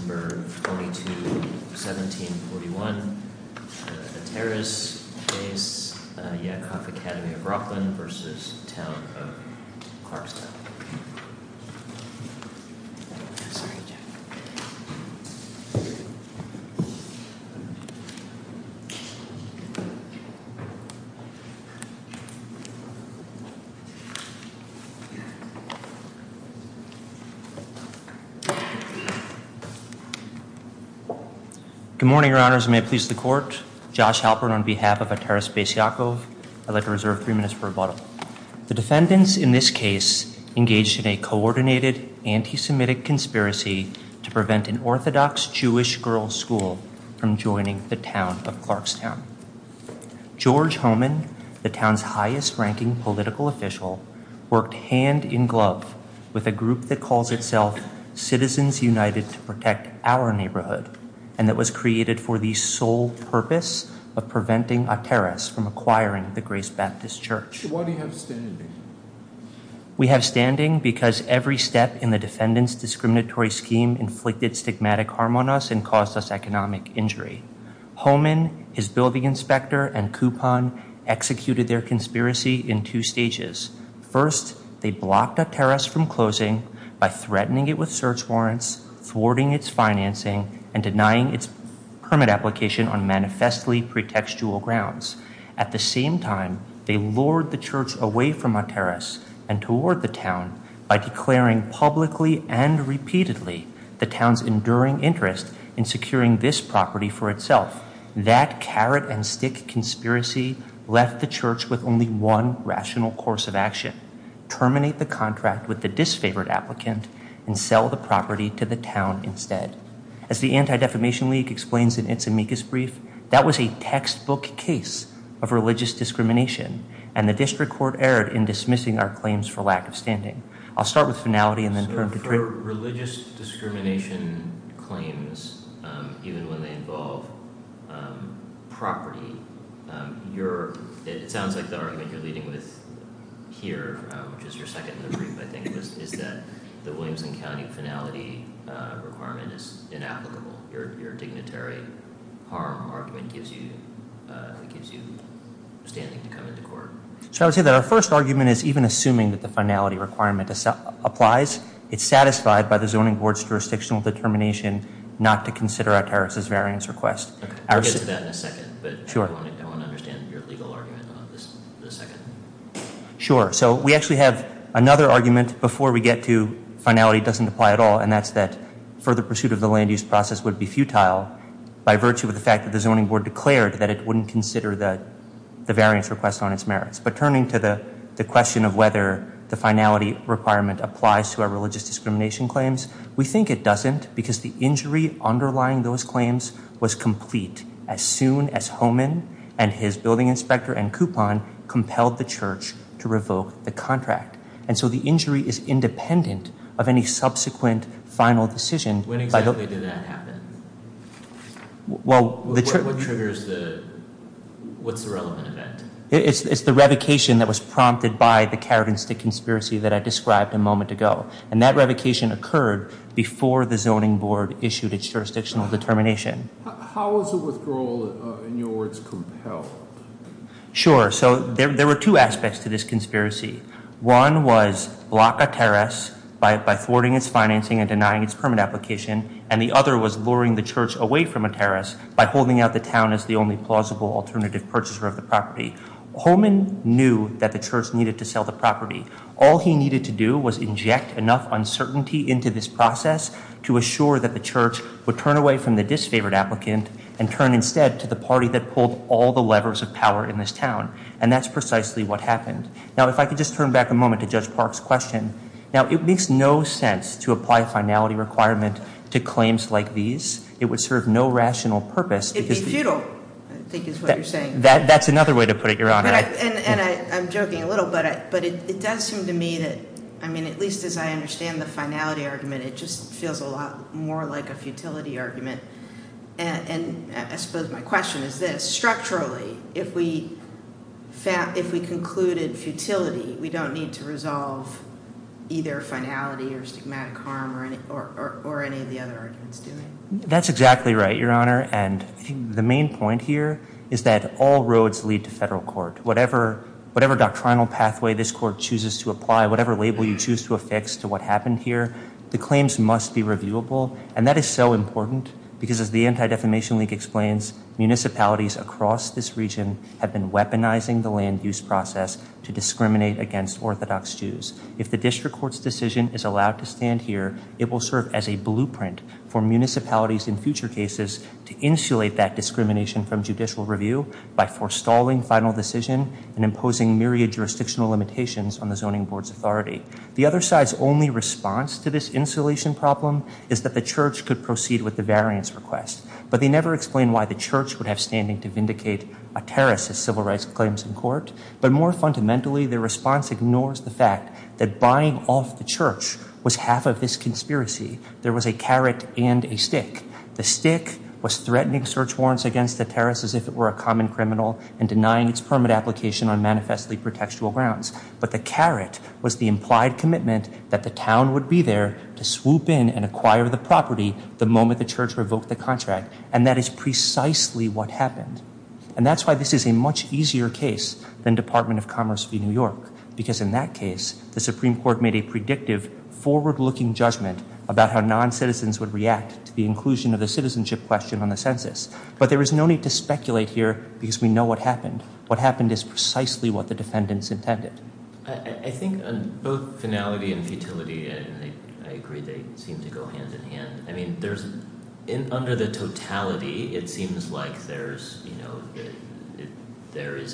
22-17-41 Good morning, your honors. May it please the court. Josh Halperin on behalf of Ateres Bais Yaakov. I'd like to reserve three minutes for rebuttal. The defendants in this case engaged in a coordinated anti-Semitic conspiracy to prevent an Orthodox Jewish girls' school from joining the Town of Clarkstown. George Homan, the Town's highest-ranking political official, worked hand-in-glove with a group that calls itself Citizens United to Protect Our Neighborhood, and that was created for the sole purpose of preventing Ateres from acquiring the Grace Baptist Church. Why do you have standing? We have standing because every step in the defendants' discriminatory scheme inflicted stigmatic harm on us and caused us economic injury. Homan, his building inspector, and Kupon executed their conspiracy in two stages. First, they blocked Ateres from closing by threatening it with search warrants, thwarting its financing, and denying its permit application on manifestly pretextual grounds. At the same time, they lured the church away from Ateres and toward the town by declaring publicly and repeatedly the town's enduring interest in securing this property for itself. That carrot-and-stick conspiracy left the church with only one rational course of action— terminate the contract with the disfavored applicant and sell the property to the town instead. As the Anti-Defamation League explains in its amicus brief, that was a textbook case of religious discrimination, and the district court erred in dismissing our claims for lack of standing. I'll start with finality and then turn to— Religious discrimination claims, even when they involve property, it sounds like the argument you're leading with here, which is your second in the brief, I think, is that the Williamson County finality requirement is inapplicable. Your dignitary harm argument gives you standing to come into court. So I would say that our first argument is even assuming that the finality requirement applies. It's satisfied by the Zoning Board's jurisdictional determination not to consider Ateres' variance request. We'll get to that in a second, but I want to understand your legal argument on this in a second. Sure. So we actually have another argument before we get to finality doesn't apply at all, and that's that further pursuit of the land use process would be futile by virtue of the fact that the Zoning Board declared that it wouldn't consider the variance request on its merits. But turning to the question of whether the finality requirement applies to our religious discrimination claims, we think it doesn't because the injury underlying those claims was complete as soon as Homan and his building inspector and coupon compelled the church to revoke the contract. And so the injury is independent of any subsequent final decision. When exactly did that happen? What triggers the, what's the relevant event? It's the revocation that was prompted by the carrot and stick conspiracy that I described a moment ago. And that revocation occurred before the Zoning Board issued its jurisdictional determination. How is a withdrawal, in your words, compelled? Sure. So there were two aspects to this conspiracy. One was block a terrace by thwarting its financing and denying its permit application, and the other was luring the church away from a terrace by holding out the town as the only plausible alternative purchaser of the property. Homan knew that the church needed to sell the property. All he needed to do was inject enough uncertainty into this process to assure that the church would turn away from the disfavored applicant and turn instead to the party that pulled all the levers of power in this town. And that's precisely what happened. Now, if I could just turn back a moment to Judge Park's question. Now, it makes no sense to apply a finality requirement to claims like these. It would serve no rational purpose because- It'd be futile, I think is what you're saying. That's another way to put it, Your Honor. And I'm joking a little, but it does seem to me that, I mean, at least as I understand the finality argument, it just feels a lot more like a futility argument. And I suppose my question is this. Structurally, if we concluded futility, we don't need to resolve either finality or stigmatic harm or any of the other arguments, do we? That's exactly right, Your Honor. And the main point here is that all roads lead to federal court. Whatever doctrinal pathway this court chooses to apply, whatever label you choose to affix to what happened here, the claims must be reviewable. And that is so important because, as the Anti-Defamation League explains, municipalities across this region have been weaponizing the land use process to discriminate against Orthodox Jews. If the district court's decision is allowed to stand here, it will serve as a blueprint for municipalities in future cases to insulate that discrimination from judicial review by forestalling final decision and imposing myriad jurisdictional limitations on the zoning board's authority. The other side's only response to this insulation problem is that the church could proceed with the variance request. But they never explain why the church would have standing to vindicate a terrorist's civil rights claims in court. But more fundamentally, their response ignores the fact that buying off the church was half of this conspiracy. There was a carrot and a stick. The stick was threatening search warrants against the terrorist as if it were a common criminal and denying its permit application on manifestly pretextual grounds. But the carrot was the implied commitment that the town would be there to swoop in and acquire the property the moment the church revoked the contract. And that is precisely what happened. And that's why this is a much easier case than Department of Commerce v. New York. Because in that case, the Supreme Court made a predictive, forward-looking judgment about how non-citizens would react to the inclusion of the citizenship question on the census. But there is no need to speculate here because we know what happened. What happened is precisely what the defendants intended. I think on both finality and futility, I agree they seem to go hand in hand. I mean, under the totality, it seems like there is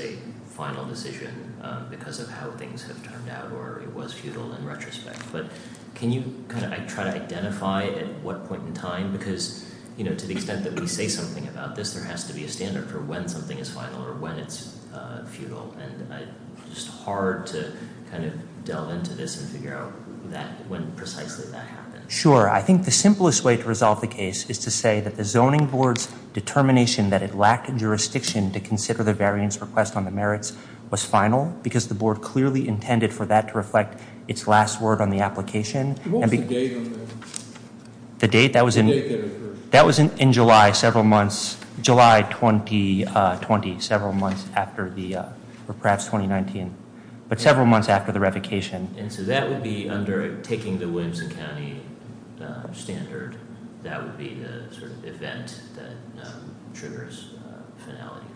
a final decision because of how things have turned out or it was futile in retrospect. But can you kind of try to identify at what point in time? Because to the extent that we say something about this, there has to be a standard for when something is final or when it's futile. And it's hard to kind of delve into this and figure out when precisely that happened. Sure. I think the simplest way to resolve the case is to say that the zoning board's determination that it lacked jurisdiction to consider the variance request on the merits was final because the board clearly intended for that to reflect its last word on the application. What was the date on that? The date? That was in July, several months. July 2020, several months after the, or perhaps 2019. But several months after the revocation. And so that would be under taking the Williamson County standard. That would be the sort of event that triggers finality.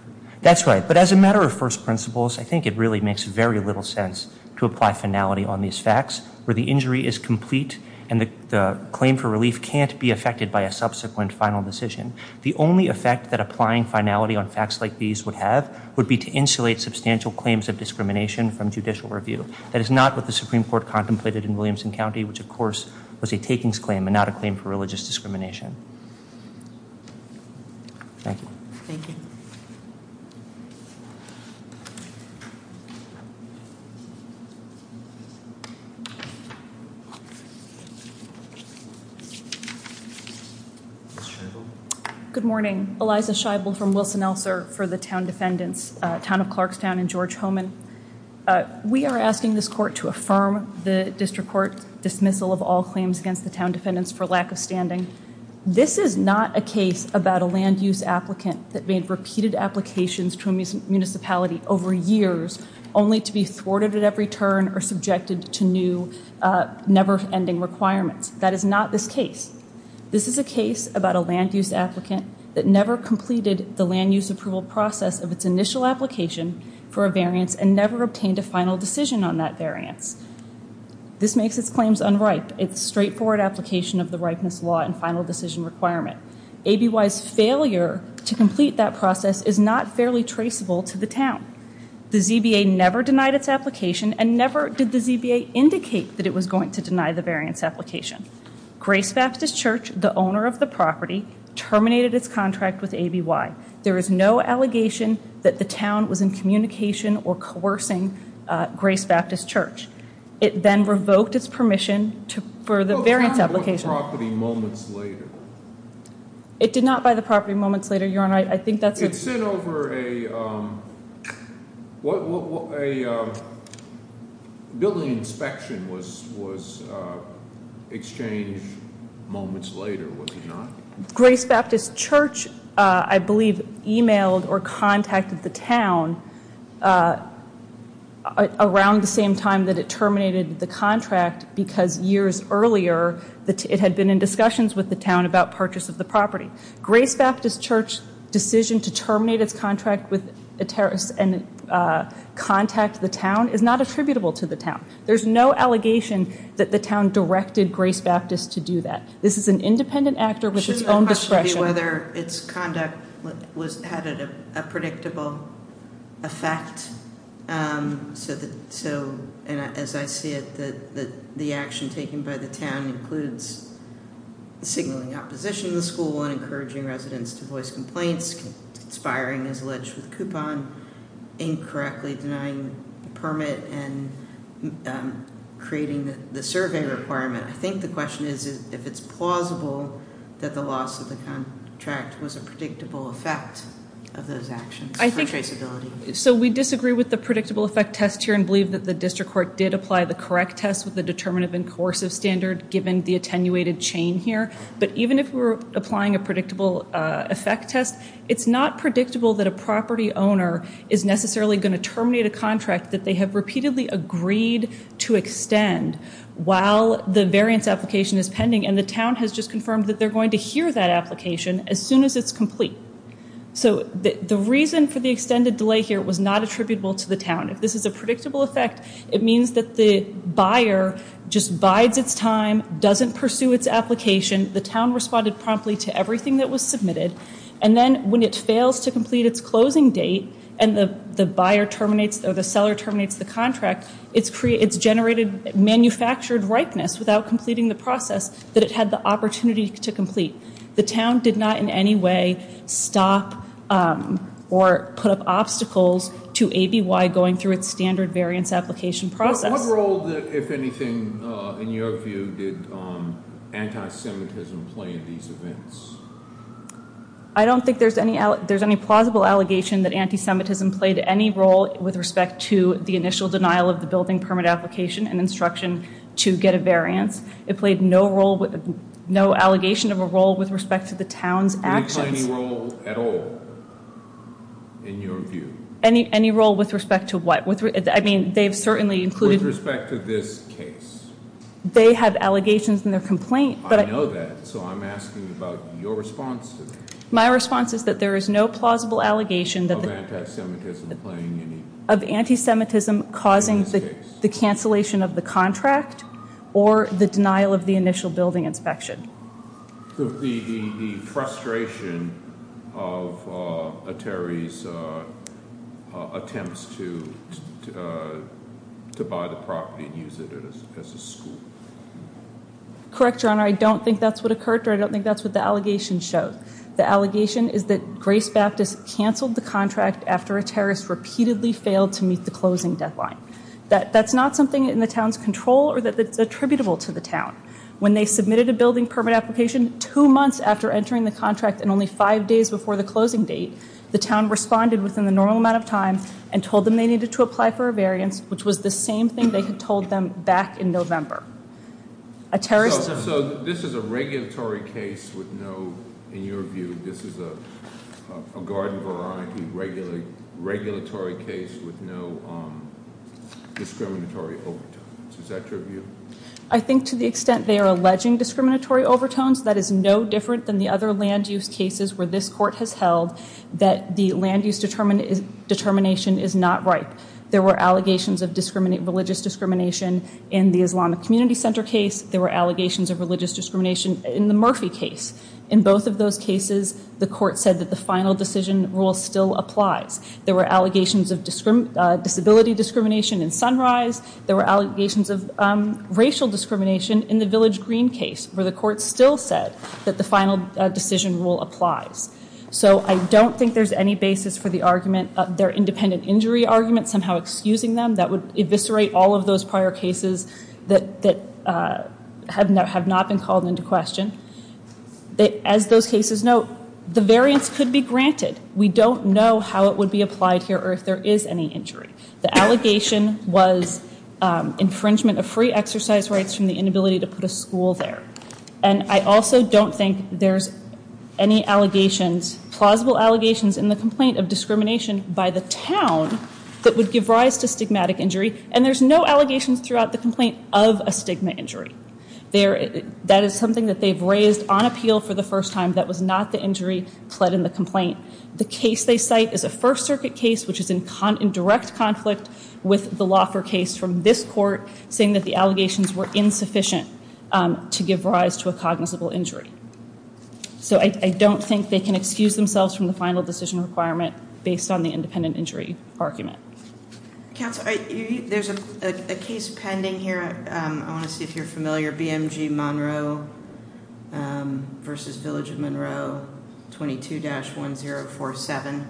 That's right. But as a matter of first principles, I think it really makes very little sense to apply finality on these facts. Where the injury is complete and the claim for relief can't be affected by a subsequent final decision. The only effect that applying finality on facts like these would have would be to insulate substantial claims of discrimination from judicial review. That is not what the Supreme Court contemplated in Williamson County, which of course was a takings claim and not a claim for religious discrimination. Thank you. Thank you. Thank you. Good morning. Eliza Scheibel from Wilson-Elser for the town defendants, Town of Clarkstown and George Homan. We are asking this court to affirm the district court dismissal of all claims against the town defendants for lack of standing. This is not a case about a land use applicant that made repeated applications to a municipality over years, only to be thwarted at every turn or subjected to new never-ending requirements. That is not this case. This is a case about a land use applicant that never completed the land use approval process of its initial application for a variance and never obtained a final decision on that variance. This makes its claims unripe. It's straightforward application of the ripeness law and final decision requirement. ABY's failure to complete that process is not fairly traceable to the town. The ZBA never denied its application and never did the ZBA indicate that it was going to deny the variance application. Grace Baptist Church, the owner of the property, terminated its contract with ABY. There is no allegation that the town was in communication or coercing Grace Baptist Church. It then revoked its permission for the variance application. Well, the town bought the property moments later. I think that's a- It sent over a building inspection was exchanged moments later, was it not? Grace Baptist Church, I believe, emailed or contacted the town around the same time that it terminated the contract because years earlier it had been in discussions with the town about purchase of the property. Grace Baptist Church's decision to terminate its contract and contact the town is not attributable to the town. There's no allegation that the town directed Grace Baptist to do that. This is an independent actor with its own discretion. I don't know whether its conduct had a predictable effect. So, as I see it, the action taken by the town includes signaling opposition to the school and encouraging residents to voice complaints, conspiring as alleged with coupon, incorrectly denying permit and creating the survey requirement. I think the question is if it's plausible that the loss of the contract was a predictable effect of those actions. So, we disagree with the predictable effect test here and believe that the district court did apply the correct test with the determinative and coercive standard given the attenuated chain here. But even if we're applying a predictable effect test, it's not predictable that a property owner is necessarily going to terminate a contract that they have repeatedly agreed to extend while the variance application is pending and the town has just confirmed that they're going to hear that application as soon as it's complete. So, the reason for the extended delay here was not attributable to the town. If this is a predictable effect, it means that the buyer just bides its time, doesn't pursue its application. The town responded promptly to everything that was submitted. And then when it fails to complete its closing date and the buyer terminates or the seller terminates the contract, it's generated manufactured ripeness without completing the process that it had the opportunity to complete. The town did not in any way stop or put up obstacles to ABY going through its standard variance application process. What role, if anything, in your view did anti-Semitism play in these events? I don't think there's any plausible allegation that anti-Semitism played any role with respect to the initial denial of the building permit application and instruction to get a variance. It played no role, no allegation of a role with respect to the town's actions. Did it play any role at all in your view? Any role with respect to what? I mean, they've certainly included- With respect to this case. They have allegations in their complaint, but- I know that, so I'm asking about your response to that. My response is that there is no plausible allegation that- Of anti-Semitism playing any- Of anti-Semitism causing the cancellation of the contract or the denial of the initial building inspection. The frustration of a terrorist's attempts to buy the property and use it as a school. Correct, Your Honor. I don't think that's what occurred, or I don't think that's what the allegation showed. The allegation is that Grace Baptist canceled the contract after a terrorist repeatedly failed to meet the closing deadline. That's not something in the town's control or that's attributable to the town. When they submitted a building permit application two months after entering the contract and only five days before the closing date, the town responded within the normal amount of time and told them they needed to apply for a variance, which was the same thing they had told them back in November. A terrorist- So this is a regulatory case with no, in your view, this is a garden variety regulatory case with no discriminatory overtones. Is that your view? I think to the extent they are alleging discriminatory overtones, that is no different than the other land-use cases where this court has held that the land-use determination is not right. There were allegations of religious discrimination in the Islam Community Center case. There were allegations of religious discrimination in the Murphy case. In both of those cases, the court said that the final decision rule still applies. There were allegations of disability discrimination in Sunrise. There were allegations of racial discrimination in the Village Green case, where the court still said that the final decision rule applies. So I don't think there's any basis for the argument, their independent injury argument, somehow excusing them that would eviscerate all of those prior cases that have not been called into question. As those cases note, the variance could be granted. We don't know how it would be applied here or if there is any injury. The allegation was infringement of free exercise rights from the inability to put a school there. And I also don't think there's any allegations, plausible allegations in the complaint of discrimination by the town that would give rise to stigmatic injury. And there's no allegations throughout the complaint of a stigma injury. That is something that they've raised on appeal for the first time. That was not the injury pled in the complaint. The case they cite is a First Circuit case, which is in direct conflict with the law for case from this court, saying that the allegations were insufficient to give rise to a cognizable injury. So I don't think they can excuse themselves from the final decision requirement based on the independent injury argument. There's a case pending here. I want to see if you're familiar. BMG Monroe. Versus Village of Monroe. 22 dash 1047.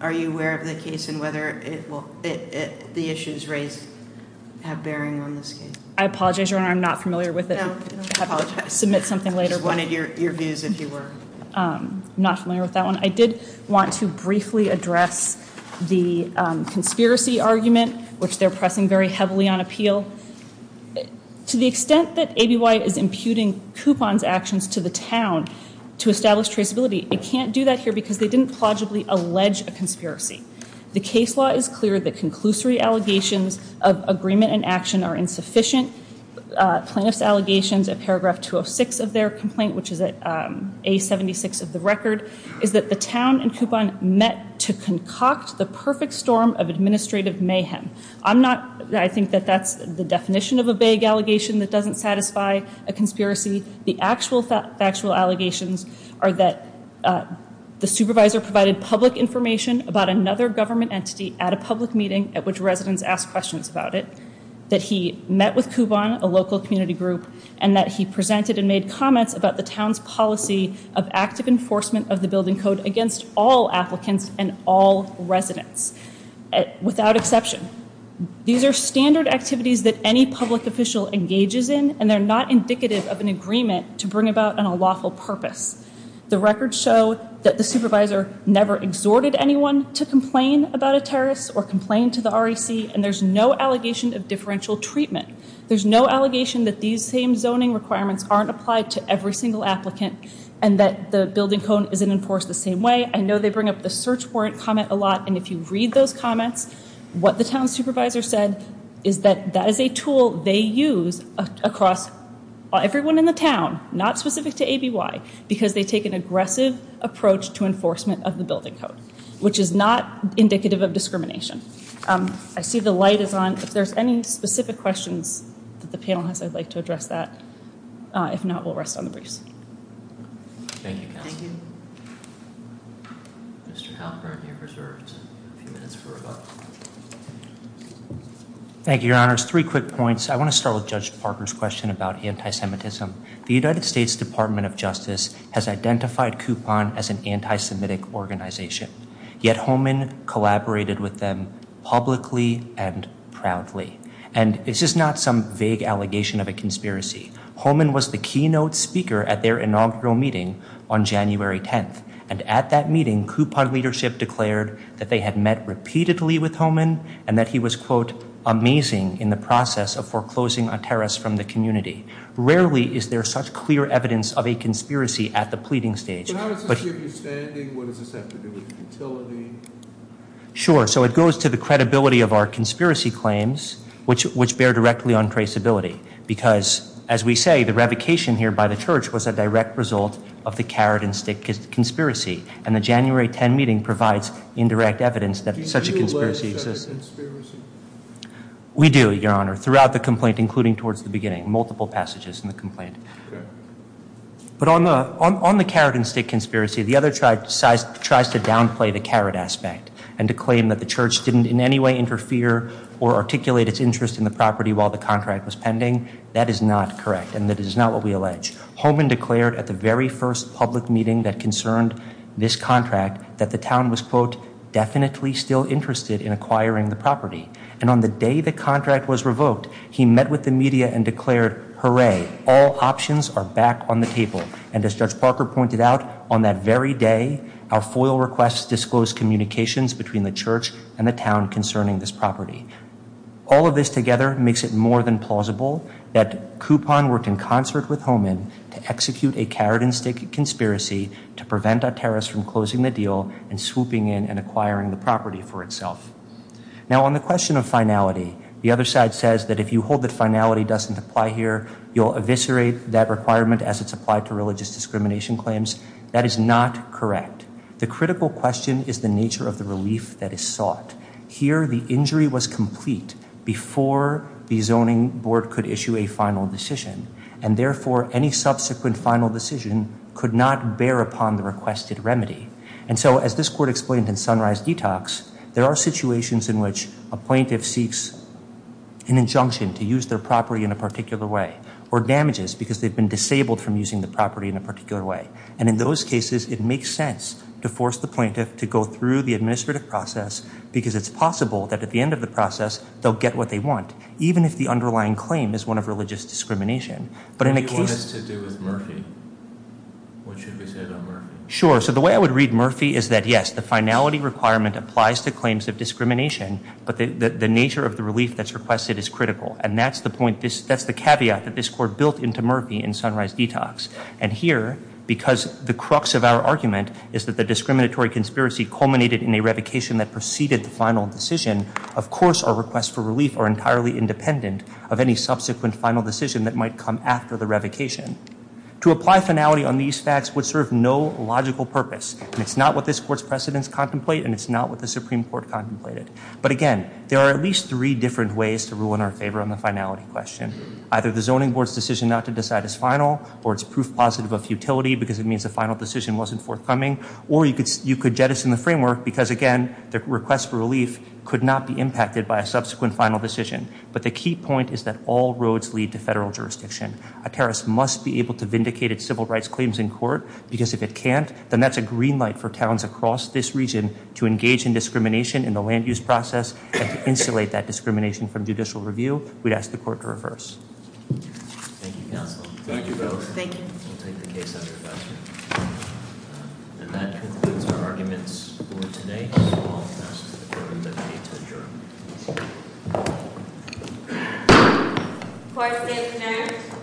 Are you aware of the case and whether it will the issues raised have bearing on this? I apologize. I'm not familiar with it. Submit something later. Wanted your views if you were Not familiar with that one. I did want to briefly address the conspiracy argument, which they're pressing very heavily on appeal to the extent that A.B.Y. is imputing coupons actions to the town to establish traceability. It can't do that here because they didn't plausibly allege a conspiracy. The case law is clear. The conclusory allegations of agreement and action are insufficient. Plaintiff's allegations of paragraph 206 of their complaint, which is a 76 of the record, is that the town and coupon met to concoct the perfect storm of administrative mayhem. I'm not. I think that that's the definition of a vague allegation that doesn't satisfy a conspiracy. The actual factual allegations are that the supervisor provided public information about another government entity at a public meeting at which residents ask questions about it. That he met with coupon, a local community group, and that he presented and made comments about the town's policy of active enforcement of the building code against all applicants and all residents without exception. These are standard activities that any public official engages in, and they're not indicative of an agreement to bring about on a lawful purpose. The records show that the supervisor never exhorted anyone to complain about a terrorist or complain to the REC, and there's no allegation of differential treatment. There's no allegation that these same zoning requirements aren't applied to every single applicant and that the building code isn't enforced the same way. I know they bring up the search warrant comment a lot, and if you read those comments, what the town supervisor said is that that is a tool they use across everyone in the town. Not specific to ABY, because they take an aggressive approach to enforcement of the building code, which is not indicative of discrimination. I see the light is on. If there's any specific questions that the panel has, I'd like to address that. If not, we'll rest on the briefs. Thank you. Thank you. Thank you, Your Honors. Three quick points. I want to start with Judge Parker's question about anti-Semitism. The United States Department of Justice has identified Coupon as an anti-Semitic organization, yet Holman collaborated with them publicly and proudly. And it's just not some vague allegation of a conspiracy. Holman was the keynote speaker at their inaugural meeting on January 10th. And at that meeting, Coupon leadership declared that they had met repeatedly with Holman and that he was, quote, amazing in the process of foreclosing on terrorists from the community. Rarely is there such clear evidence of a conspiracy at the pleading stage. But how does this give you standing? What does this have to do with utility? Sure. So it goes to the credibility of our conspiracy claims, which bear directly on traceability. Because, as we say, the revocation here by the church was a direct result of the carrot and stick conspiracy. And the January 10 meeting provides indirect evidence that such a conspiracy exists. We do, Your Honor, throughout the complaint, including towards the beginning, multiple passages in the complaint. But on the carrot and stick conspiracy, the other side tries to downplay the carrot aspect and to claim that the church didn't in any way interfere or articulate its interest in the property while the contract was pending. That is not correct. And that is not what we allege. Holman declared at the very first public meeting that concerned this contract that the town was, quote, definitely still interested in acquiring the property. And on the day the contract was revoked, he met with the media and declared, hooray, all options are back on the table. And as Judge Parker pointed out, on that very day, our FOIL requests disclosed communications between the church and the town concerning this property. All of this together makes it more than plausible that Coupon worked in concert with Holman to execute a carrot and stick conspiracy to prevent a terrorist from closing the deal and swooping in and acquiring the property for itself. Now on the question of finality, the other side says that if you hold that finality doesn't apply here, you'll eviscerate that requirement as it's applied to religious discrimination claims. That is not correct. The critical question is the nature of the relief that is sought. Here, the injury was complete before the zoning board could issue a final decision. And therefore, any subsequent final decision could not bear upon the requested remedy. And so as this court explained in Sunrise Detox, there are situations in which a plaintiff seeks an injunction to use their property in a particular way or damages because they've been disabled from using the property in a particular way. And in those cases, it makes sense to force the plaintiff to go through the administrative process because it's possible that at the end of the process, they'll get what they want, even if the underlying claim is one of religious discrimination. But in a case- What do you want this to do with Murphy? What should be said on Murphy? Sure. So the way I would read Murphy is that, yes, the finality requirement applies to claims of discrimination, but the nature of the relief that's requested is critical. And that's the caveat that this court built into Murphy in Sunrise Detox. And here, because the crux of our argument is that the discriminatory conspiracy culminated in a revocation that preceded the final decision, of course our requests for relief are entirely independent of any subsequent final decision that might come after the revocation. To apply finality on these facts would serve no logical purpose. And it's not what this court's precedents contemplate, and it's not what the Supreme Court contemplated. But again, there are at least three different ways to rule in our favor on the finality question. Either the zoning board's decision not to decide is final, or it's proof positive of futility because it means the final decision wasn't forthcoming. Or you could jettison the framework because, again, the request for relief could not be impacted by a subsequent final decision. But the key point is that all roads lead to federal jurisdiction. A terrace must be able to vindicate its civil rights claims in court, because if it can't, then that's a green light for towns across this region to engage in discrimination in the land use process and to insulate that discrimination from judicial review. We'd ask the court to reverse. Thank you, counsel. Thank you both. Thank you. We'll take the case up here faster. And that concludes our arguments for today. So I'll pass it to the court. I'm going to pay to adjourn. Court is adjourned.